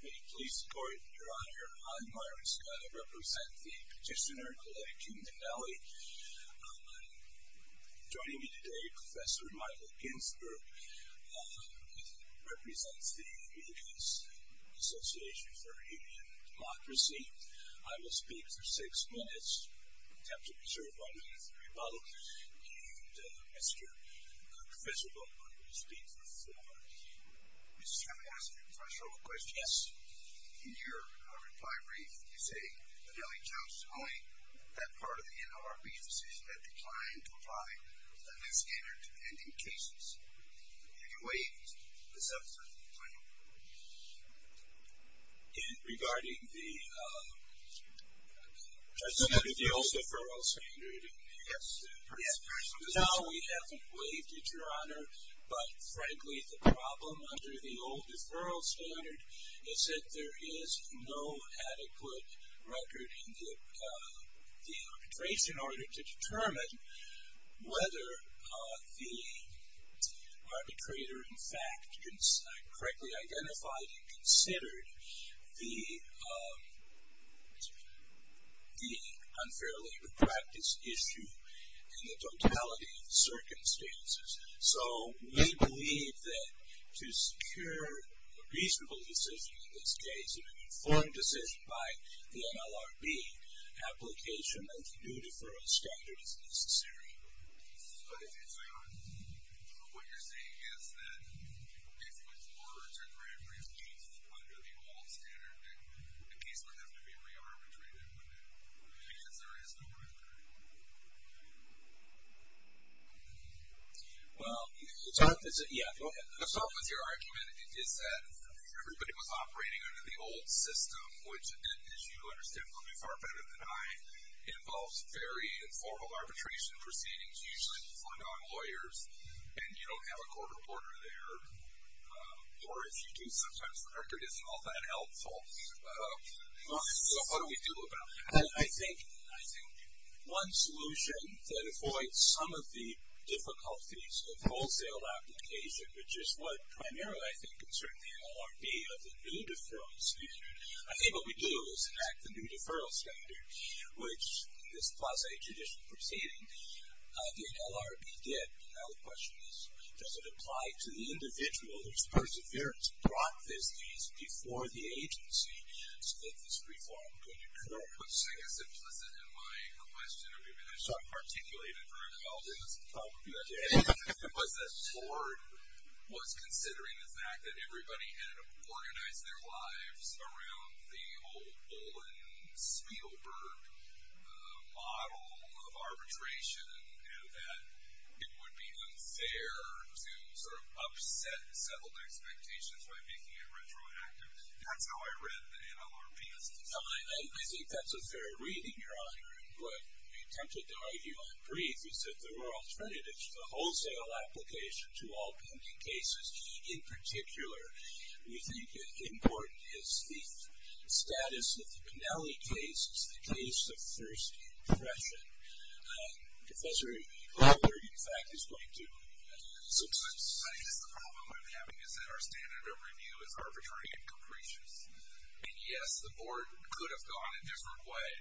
May it please the court, your honor, I, Myron Scott, represent the petitioner, Coletta Beneli. Joining me today, Professor Michael Ginsberg, who represents the U.S. Association for Human Democracy. I will speak for six minutes. I have to be sure if I'm being followed. And Mr. Professor Volkmann will speak for four minutes. Mr. Scott, may I ask you a question? Yes. In your reply brief, you say Beneli chose only that part of the NLRB's decision that declined to apply the high standard to pending cases. In what ways does that play a role? Regarding the old deferral standard. Yes. Now we haven't waived it, your honor, but frankly the problem under the old deferral standard is that there is no adequate record in the arbitration order to determine whether the arbitrator in fact correctly identified and considered the unfair labor practice issue in the totality of the circumstances. So we believe that to secure a reasonable decision in this case, and to make an informed decision by the NLRB, application of the new deferral standard is necessary. So what you're saying is that if a case was ordered to grant brief peace under the old standard, the case would have to be re-arbitrated, wouldn't it? Because there is no record. Well, the problem with your argument is that everybody was operating under the old system, which, as you understand probably far better than I, involves very informal arbitration proceedings usually performed on lawyers, and you don't have a court reporter there. Or if you do, sometimes the record isn't all that helpful. So what do we do about that? I think one solution that avoids some of the difficulties of wholesale application, which is what primarily I think concerns the NLRB of the new deferral standard, I think what we do is enact the new deferral standard, which in this quasi-traditional proceeding, the NLRB did. Now the question is, does it apply to the individual whose perseverance brought this case before the agency so that this reform could occur? What you're saying is implicit in my question. Particularly the direct result of that was that Ford was considering the fact that everybody had organized their lives around the old Olin-Spielberg model of arbitration and that it would be unfair to sort of upset settled expectations by making it retroactive. That's how I read the NLRB's decision. I think that's a fair reading, Your Honor. What we attempted to argue on brief is that there were alternatives to the wholesale application to all pending cases. In particular, we think important is the status of the Pennelly case as the case of first impression. Professor Glauber, in fact, is going to sum this up. I guess the problem I'm having is that our standard of review is arbitrary and capricious. And, yes, the board could have gone a different way.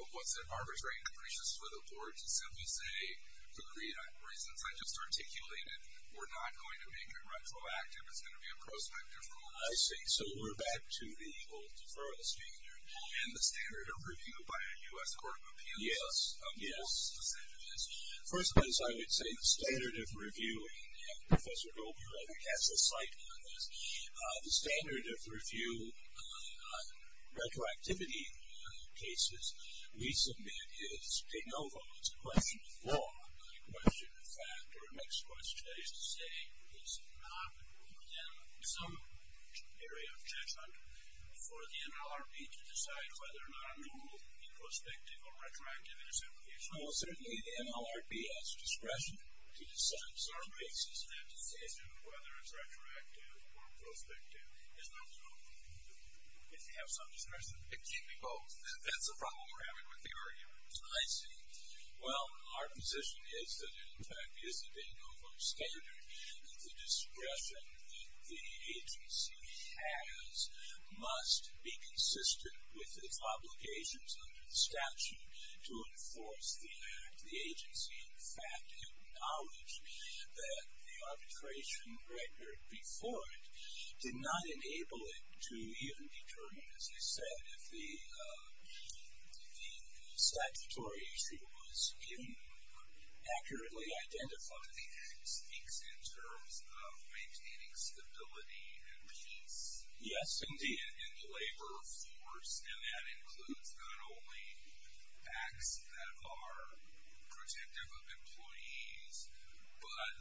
Was it arbitrary and capricious for the board to simply say, for the reasons I just articulated, we're not going to make it retroactive? It's going to be a prospective rule. I see. So we're back to the old deferral standard. And the standard of review by a U.S. Court of Appeals. Yes, yes. First of all, as I would say, the standard of review, and Professor Glauber, I think, has a site on this. The standard of review on retroactivity cases we submit is de novo. It's a question of law, not a question of fact. Or a mixed question, that is to say, is it not within some area of judgment for the NLRB to decide whether or not a rule be prospective or retroactive in its application? Well, certainly the NLRB has discretion to decide. So it makes a standard decision of whether it's retroactive or prospective. Isn't that so? If you have some discretion. It can be both. That's the problem we're having with the RER. I see. Well, our position is that, in fact, is it a de novo standard that the discretion that the agency has must be consistent with its obligations under the statute to enforce the act. The agency, in fact, acknowledged that the arbitration record before it did not enable it to even determine, as you said, if the statutory issue was even accurately identified. The act speaks in terms of maintaining stability and peace. Yes, indeed. And labor force. And that includes not only acts that are protective of employees but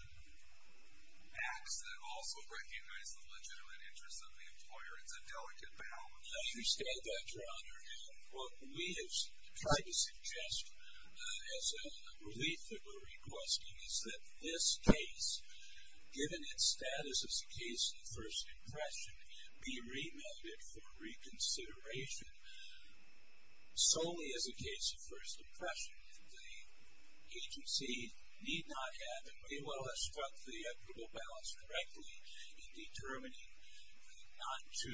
acts that also recognize the legitimate interests of the employer. It's a delicate balance. I understand that, Your Honor. And what we have tried to suggest as a relief that we're requesting is that this case, given its status as a case of first impression, be remanded for reconsideration solely as a case of first impression. And the agency need not have, and may well have struck the equitable balance correctly in determining not to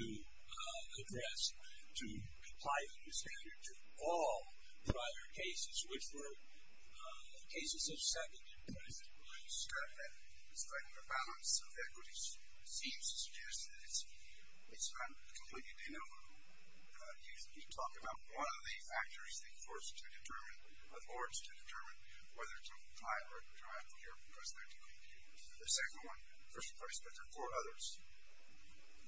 address, to apply the new standard to all prior cases, which were cases of second impression. In spite of the balance of equities, it seems to suggest that it's not completely denial. You talk about one of the factors they forced to determine, or forced to determine whether to apply it or not to apply it here because they're decreed to do the second one, first impression, but there are four others.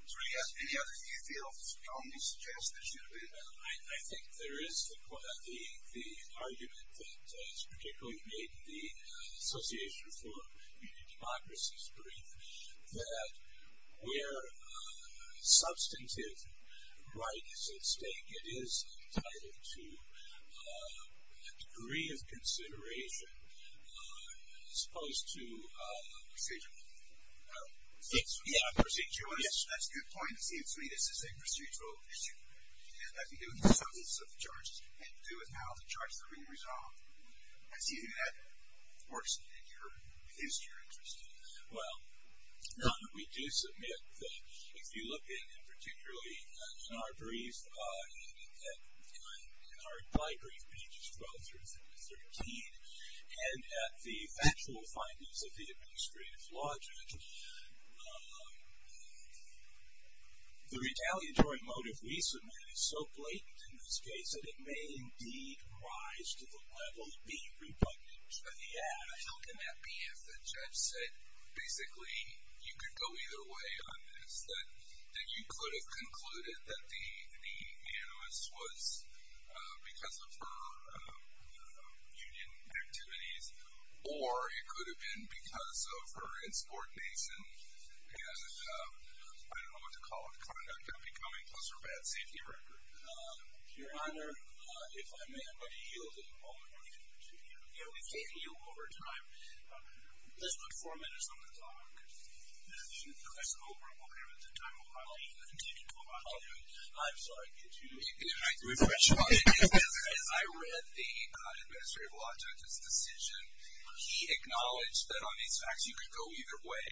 So, yes, any others you feel strongly suggest there should have been? I think there is the argument that is particularly made in the Association for Community Democracy's brief that where substantive right is at stake, it is tied into a degree of consideration as opposed to procedural. Yeah, procedural. Yes, that's a good point. It seems to me this is a procedural issue. It has to do with the substance of the charge. It has to do with how the charge is going to be resolved. I see that works in your interest. Well, we do submit that if you look in particularly in our brief, in our brief pages 12 through 13, and at the factual findings of the administrative law judge, the retaliatory motive we submit is so blatant in this case that it may indeed rise to the level of being rebuttable. How can that be if the judge said basically you could go either way on this, that you could have concluded that the animus was because of her union activities or it could have been because of her insubordination and I don't know what to call it, conduct upbecoming, plus her bad safety record? Your Honor, if I may, I'm going to yield at the moment. We can continue. We've gained you over time. Let's put four minutes on the clock. I suppose we're okay with the time. We'll continue. I'm sorry. Could you refresh your mind? I read the administrative law judge's decision. He acknowledged that on these facts you could go either way.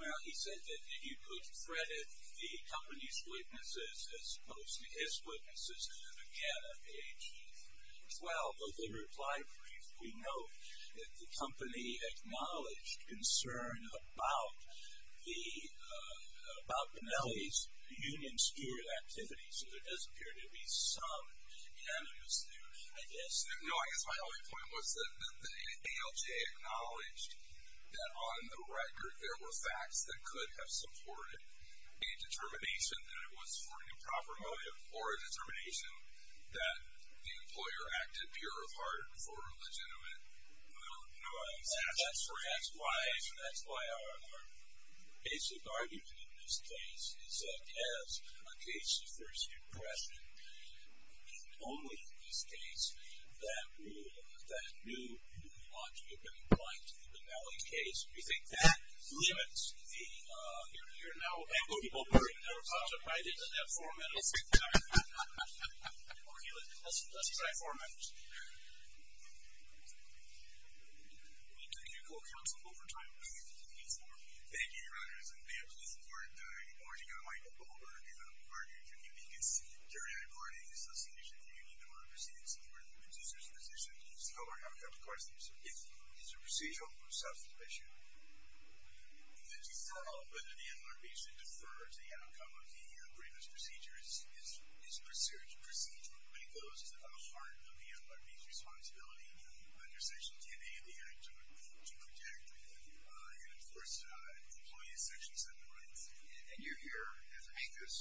Well, he said that if you could credit the company's witnesses as opposed to his witnesses, again, on page 12 of the reply brief, we note that the company acknowledged concern about Penelope's union steward activity, so there does appear to be some animus there, I guess. No, I guess my only point was that the ALJ acknowledged that on the record there were facts that could have supported a determination that it was for an improper motive or a determination that the employer acted pure of heart for a legitimate motive. That's why our basic argument in this case is that as a case of first impression, in only this case that knew what you had been implying to the Penelope case, we think that limits the here and now. I hope people agree with that. We probably didn't have four minutes. Let's try four minutes. We'll take your call, counsel, over time. Thank you, Your Honor. Good morning, Your Honor. My name is Michael Goldberg. I'm a partner in a community-conceived periodic audit in the Association of the Union in order to proceed in support of the producer's position. So I have a couple of questions. Is the procedure of self-sufficiency? Whether the NLRB should defer to the outcome of the agreement's procedure is a procedure. The procedure of making those is at the heart of the NLRB's responsibility under Section 10A of the Act to protect and enforce employee's Section 7 rights. And you're here to make this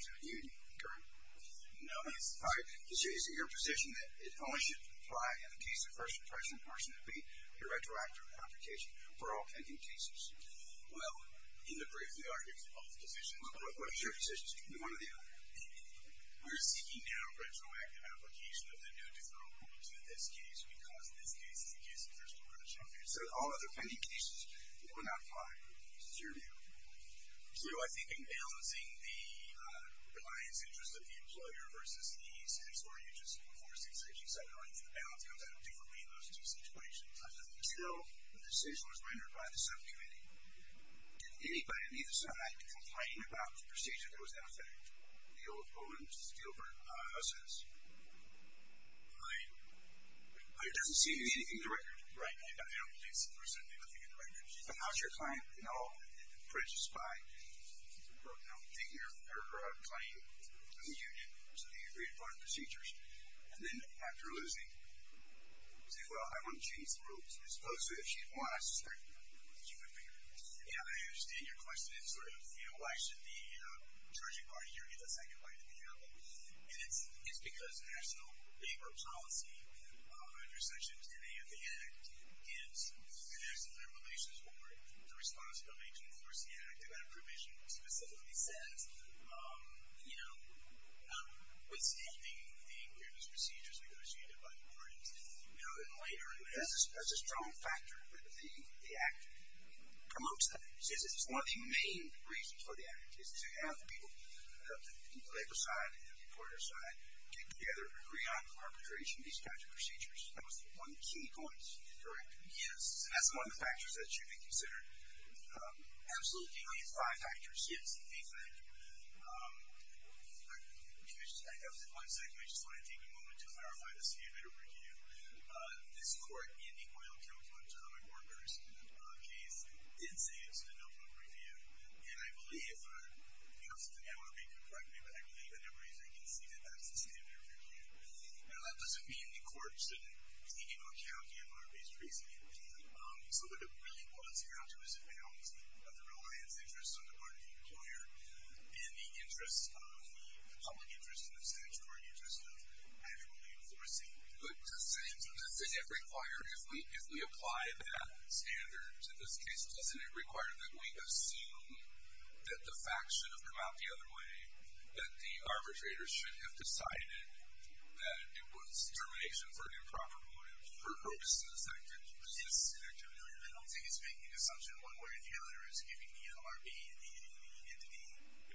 your position? Are you currently? No. All right. Is it your position that it only should apply in the case of first impression or should it be a retroactive application for all pending cases? Well, in the brief, we argue for both positions. What is your position? One or the other. We're seeking now a retroactive application of the new deferral rule to this case because this case is the case of first impression. So all other pending cases will not apply. Is this your view? No. I think in balancing the reliance interest of the employer versus the sense where you just enforce the Section 7 rights, the balance comes out differently in those two situations. Until the decision was rendered by the subcommittee, did anybody on either side complain about the procedure that was out there? The old, old and stillburn. How so? It doesn't seem to be anything to record right now. I don't believe so. There's certainly nothing to record. So how's your client, you know, prejudiced by, you know, taking her claim to the union to the agreed upon procedures and then after losing say, well, I want to change the rules? Supposedly, if she'd won, I suspect she would be. Yeah, I understand your question. It's sort of, you know, why should the charging party here get the second bite of the apple? And it's because national labor policy under Section 10A of the Act is in essence in relation to the responsibility to enforce the Act. And that provision specifically says, you know, withstanding the previous procedures negotiated by the parties, you know, and later. That's a strong factor that the Act promotes that. It's one of the main reasons for the Act is to have the people on the labor side and the employer side get together and agree on arbitration, these types of procedures. That was one of the key points, correct? Yes. And that's one of the factors that should be considered. Absolutely, at least five factors. Yes, exactly. One second. I just want to take a moment to clarify this. We had a review. This court in the oil chemical and atomic workers case did say it's a no vote review. And I believe, you know, something I want to make, correct me, but I believe that everybody can see that that's the standard review. Now, that doesn't mean the court shouldn't take into account the MRB's reasoning. So what it really was, it was a balance of the reliance interest on the party employer and the interest of the public interest and the statutory interest of actually enforcing. But doesn't it require if we apply that standard in this case, doesn't it require that we assume that the facts should have come out the other way, that the arbitrators should have decided that it was termination for an improper motive for purposes that could persist in activity? I don't think it's making an assumption one way or the other. It's giving the MRB and the entity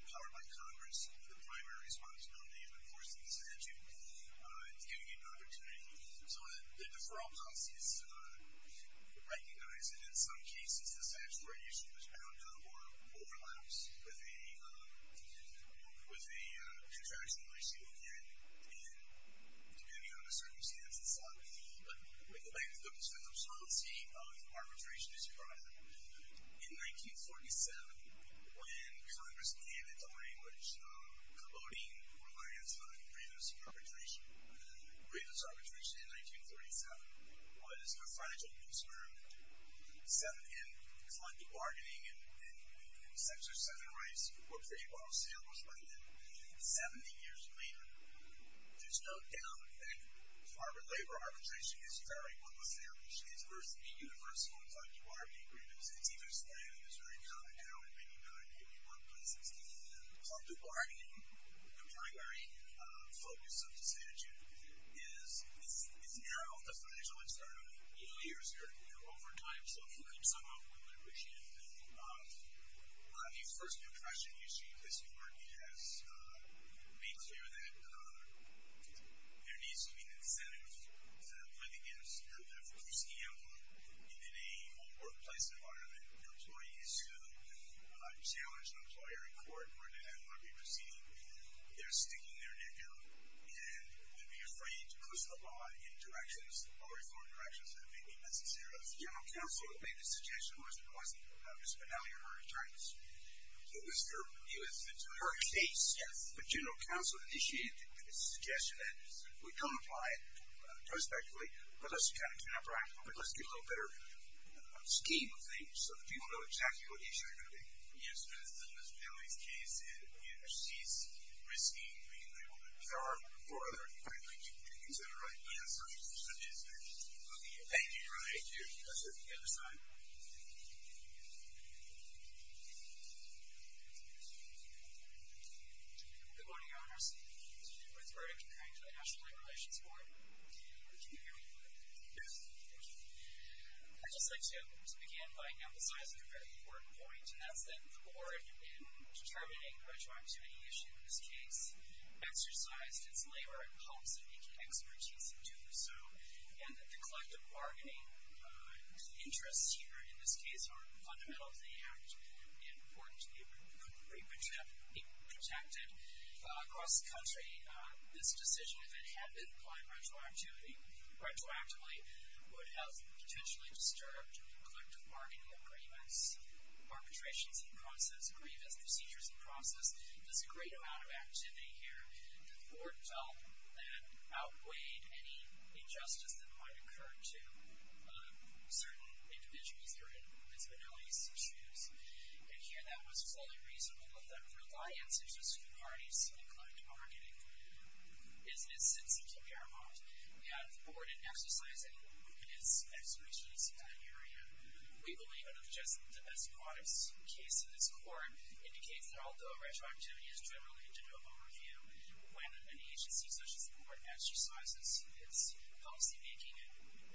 empowered by Congress the primary responsibility of enforcing this statute. It's giving it an opportunity. So the deferral policy is recognized. And in some cases, the statutory issue is bound to overlap with a contraction issue again, depending on the circumstance and so on. But when you look at Douglas Phillips' policy, arbitration is provided. In 1947, when Congress abandoned the language of co-voting reliance on grievance arbitration, grievance arbitration in 1937 was a fragile instrument. And it's like the bargaining and sexist center rights were pretty well established by then. Seventy years later, there's no doubt that farmer labor arbitration is very well established. It's supposed to be universal. It's like the bargaining agreements. It's even explained in Missouri now in many non-union workplaces. And called the bargaining. The primary focus of the statute is it's narrowed the fragile instrument over years or over time. So if you can somehow win arbitration, then you will not. One of the first impressions you see because your work has made clear that there needs to be an incentive for the gifts. You have to have a risky envelope. And in a home workplace environment, the employees who challenge an employer in court or an MRE proceeding, they're sticking their neck out. And they'd be afraid to push the law in directions, or reform directions that may be necessary. The General Counsel made the suggestion, was it wasn't? Ms. Bonnell, you're her attorney. It was her case. Yes. But General Counsel initiated the suggestion that we don't apply it prospectually, but let's kind of do it practically. But let's do a little better scheme of things so that people know exactly what issue they're going to be. Yes, but in Ms. Bonnell's case, it sees risky being able to guard for other employees, et cetera. Yes. Thank you. Thank you. Thank you. The other side. Good morning, Your Honors. With regard to the National Labor Relations Board, can you hear me? Yes. Thank you. I'd just like to begin by emphasizing a very important point. And that's that the board, in determining retroactivity issues in this case, exercised its labor in hopes of making expertise do so. And that the collective bargaining interests here, in this case, are fundamental to the act and important to be protected. Across the country, this decision, if it had been applied retroactively, would have potentially disturbed collective bargaining agreements, arbitrations in process, grievance procedures in process. There's a great amount of activity here that the board felt that outweighed any injustice that might occur to certain individuals or Ms. Bonnell's issues. And here, that was fully reasonable. But the reliance is just two parties, and the collective bargaining business, and it can be our fault. We have the board exercising its expertise in that area. We believe, under the best practice case in this court, indicates that, although retroactivity is generally into double review, when an agency such as the board exercises its policymaking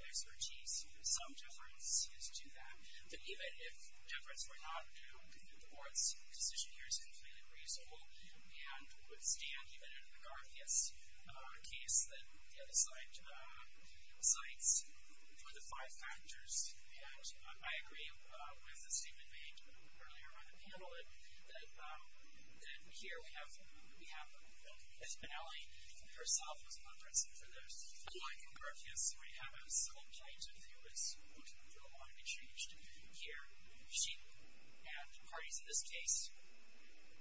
expertise, some deference is to that. But even if deference were not due, the board's position here is completely reasonable. And we would stand, even in a McGarthias case, that the other side cites for the five factors. And I agree with the statement made earlier by the panel that here we have, on behalf of Ms. Bonnelly, herself as a representative for the line in McGarthias, we have a certain kind of view that's ultimately going to want to be changed here. She and parties in this case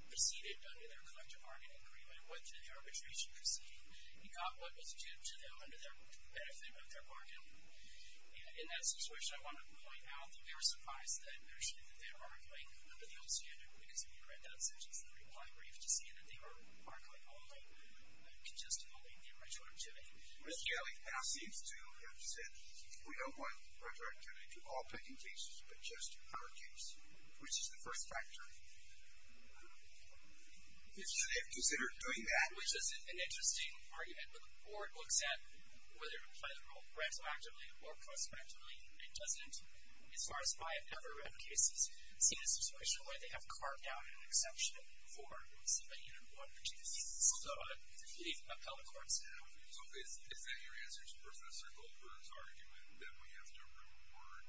proceeded under their collective bargaining agreement, went through the arbitration proceeding, and got what was due to them under the benefit of their bargain. In that situation, I want to point out that we were surprised that they were arguing under the old standard. Because if you read that sentence in the reply brief to see that they were arguing only, congestively, in retroactivity. Ms. Bailey now seems to have said, we don't want retroactivity to all pending cases, but just our case. Which is the first factor. Should they have considered doing that? Which is an interesting argument. But the board looks at whether to play the role retroactively or post retroactively. And doesn't, as far as I have never read cases, see a situation where they have carved out an exception for somebody in one or two cases. So I completely upheld the court's stand. So is that your answer to Professor Goldberg's argument that we have to reward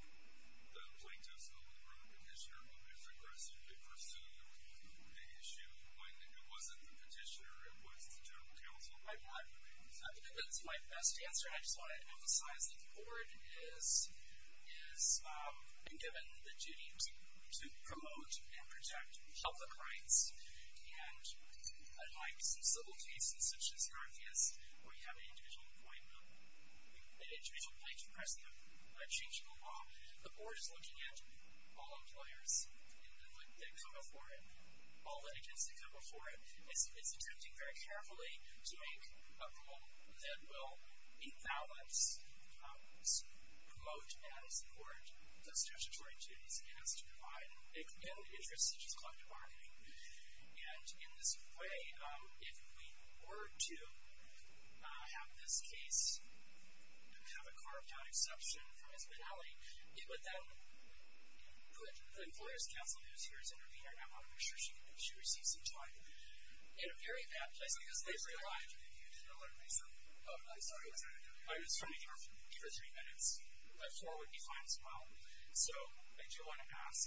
the plaintiffs over the group petitioner who has aggressively pursued the issue when it wasn't the petitioner, it was the general counsel? I think that's my best answer. I just want to emphasize that the board is given the duty to promote and protect health and rights. And unlike some civil cases, such as Narthea's, where you have an individual appointment, an individual plaintiff pressing a change to the law, the board is looking at all employers that come before it, all litigants that come before it. It's attempting very carefully to make a rule that will evaluate, promote, and support those statutory duties. It has to provide an interest such as collective bargaining. And in this way, if we were to have this case have a carved out exception from its finality, it would then put the employer's counsel who is here as intervener, and I want to make sure she receives some time, in a very bad place because they've relied. You didn't alert me, sir. Oh, I'm sorry. I was trying to hear for three minutes. But four would be fine as well. So I do want to ask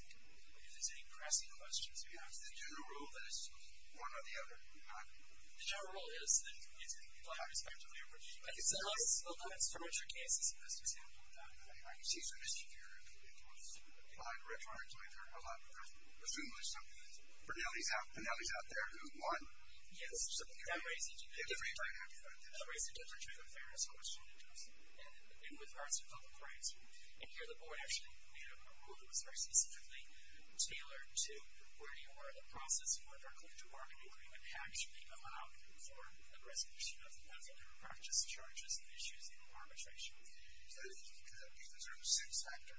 if there's any pressing questions about the general rule that it's one or the other. The general rule is that it's going to be one or the other. I think so. So let's start with your case as a best example of that. I mean, I can see some mischief here. It was applied electronically for a lot of people, presumably someone else. Bernalli's out there who won. Yes. So that raises a different kind of question. That raises a different kind of fairness question in terms of, and with regards to public rights. And here the board actually made up a rule that was very specifically tailored to where you are in the process. And whether a collective bargaining agreement actually allowed for a resolution of the conflict of practice charges and issues in arbitration. Is that a reason? Because that would be considered a sins factor.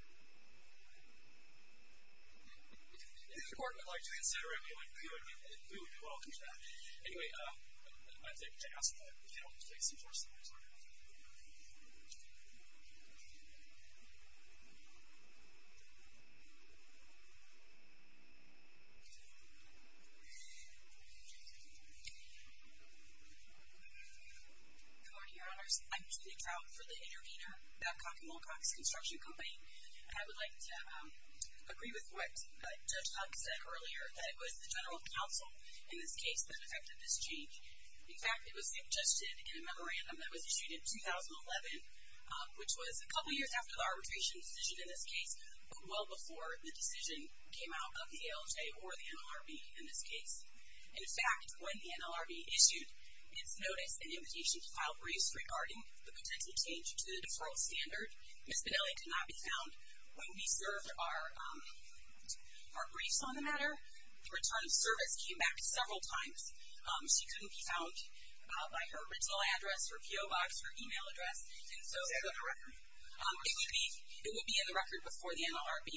If the court would like to consider it, we would welcome that. Anyway, I think to ask that if you don't mind, please, endorse the result. Thank you. Good morning, your honors. I'm Julie Trout for the intervener, Batcock & Wilcox Construction Company. And I would like to agree with what Judge Huck said earlier, that it was the general counsel in this case that affected this change. In fact, it was suggested in a memorandum that was issued in 2011, which was a couple years after the arbitration decision in this case, but well before the decision came out of the ALJ or the NLRB in this case. In fact, when the NLRB issued its notice and invitation to file briefs regarding the potential change to the deferral standard, Ms. Bedelli could not be found when we served our briefs on the matter. The return of service came back several times. She couldn't be found by her rental address, her PO box, her email address. And so it would be in the record before the court or the NLRB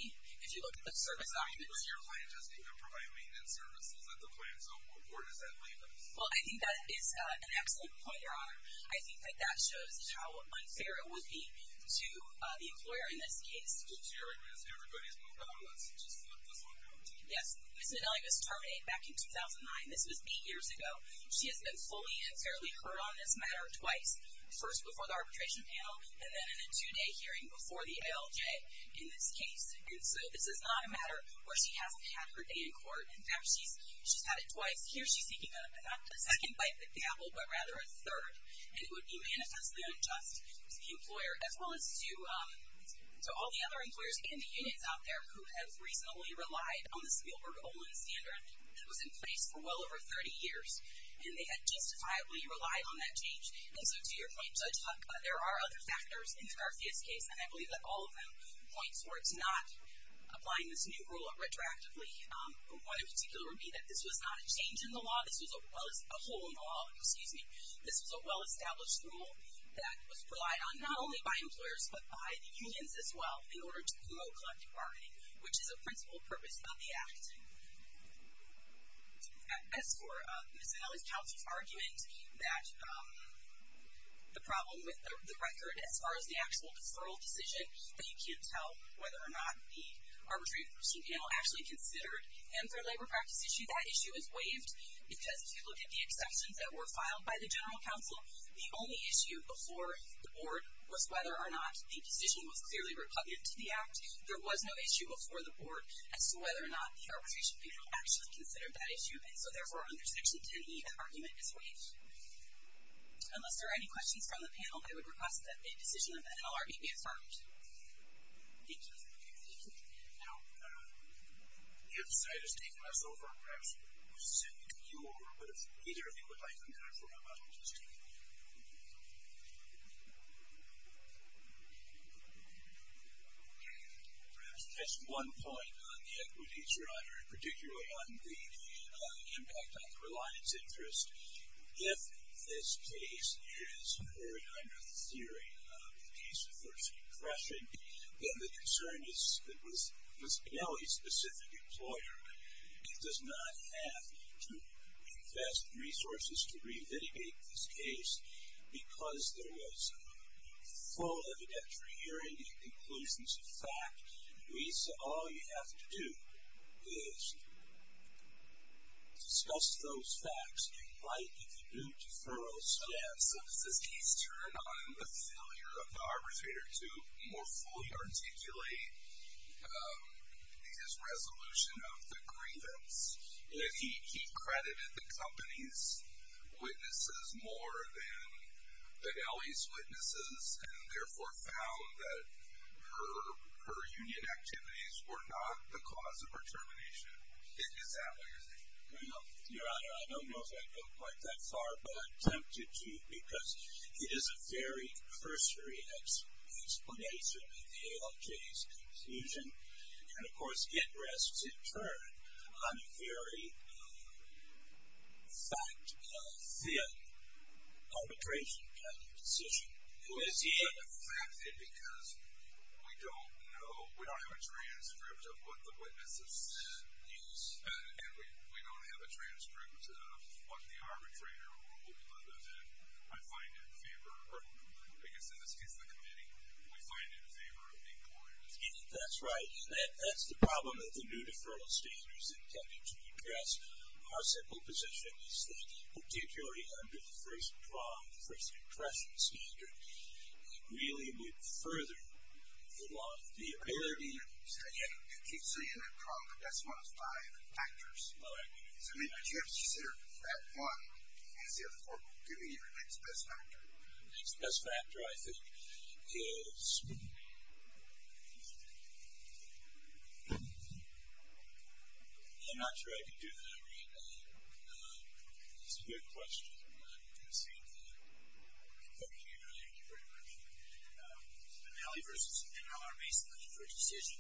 if you look at the service documents. But your client doesn't even provide maintenance services at the plant. So where does that leave us? Well, I think that is an excellent point, your honor. I think that that shows how unfair it would be to the employer in this case. Judge, you're right. Everybody's moved on. Let's just flip this one out. Yes. Ms. Bedelli was terminated back in 2009. This was eight years ago. She has been fully and fairly heard on this matter twice, first before the arbitration panel, and then in a two-day hearing before the ALJ in this case. And so this is not a matter where she hasn't had her day in court. In fact, she's had it twice. Here she's seeking not a second bite at the apple, but rather a third. And it would be manifestly unjust to the employer, as well as to all the other employers in the units out there who have reasonably relied on the Spielberg-Olin standard that was in place for well over 30 years. And they had justifiably relied on that change. And so to your point, Judge Huck, there are other factors in Scarfia's case, and I believe that all of them point towards not applying this new rule retroactively. One in particular would be that this was not a change in the law. This was a hole in the law. This was a well-established rule that was relied on not only by employers, but by the unions as well, in order to promote collective bargaining, which is a principal purpose of the act. As for Ms. Bedelli's counsel's argument that the problem with the record as far as the actual deferral decision, you can't tell whether or not the arbitration panel actually considered. And for a labor practice issue, that issue is waived, because if you look at the exceptions that were filed by the general counsel, the only issue before the board was whether or not the decision was clearly repugnant to the act. There was no issue before the board as to whether or not the arbitration panel actually considered that issue. And so therefore, under Section 10e, that argument is waived. Unless there are any questions from the panel, I would request that a decision of the NLRB be affirmed. Thank you. Now, the other side has taken us over. Perhaps we'll send you over. But if either of you would like to come back for a moment. Perhaps just one point on the equities, Your Honor, and particularly on the impact on reliance interest. If this case is carried under the theory of the case of first impression, then the concern is that with an L.A. specific employer, it does not have to invest resources to revitigate this case, because there was full evidentiary hearing and conclusions of fact. Lisa, all you have to do is discuss those facts. And Mike, if you do, defer us. Yes. If this case turned on the failure of the arbitrator to more fully articulate his resolution of the grievance, if he credited the company's witnesses more than the L.A.'s and therefore found that her union activities were not the cause of her termination, is that what you're saying? No, Your Honor. I don't know if I've gone quite that far, but I'm tempted to because it is a very cursory explanation of the ALJ's conclusion. And, of course, it rests in turn on a very fact-filled arbitration kind of decision. Well, it's fact-filled because we don't know, we don't have a transcript of what the witness has said. Yes. And we don't have a transcript of what the arbitrator or what we believe is it. I find it in favor, or because in this case, the committee, we find it in favor of the employer. That's right. And that's the problem that the new deferral standards intended to address our simple position is that particularly under the L.A.'s pronged first impression standard, it really would further the law. I hear you. You keep saying that pronged. That's one of five factors. All right. But you have to consider that one as the other four could be your next best factor. The next best factor, I think, is, I'm not sure I can do that right now. That's a good question. I'm going to concede that. Okay. Thank you very much. And now our baseline for decision.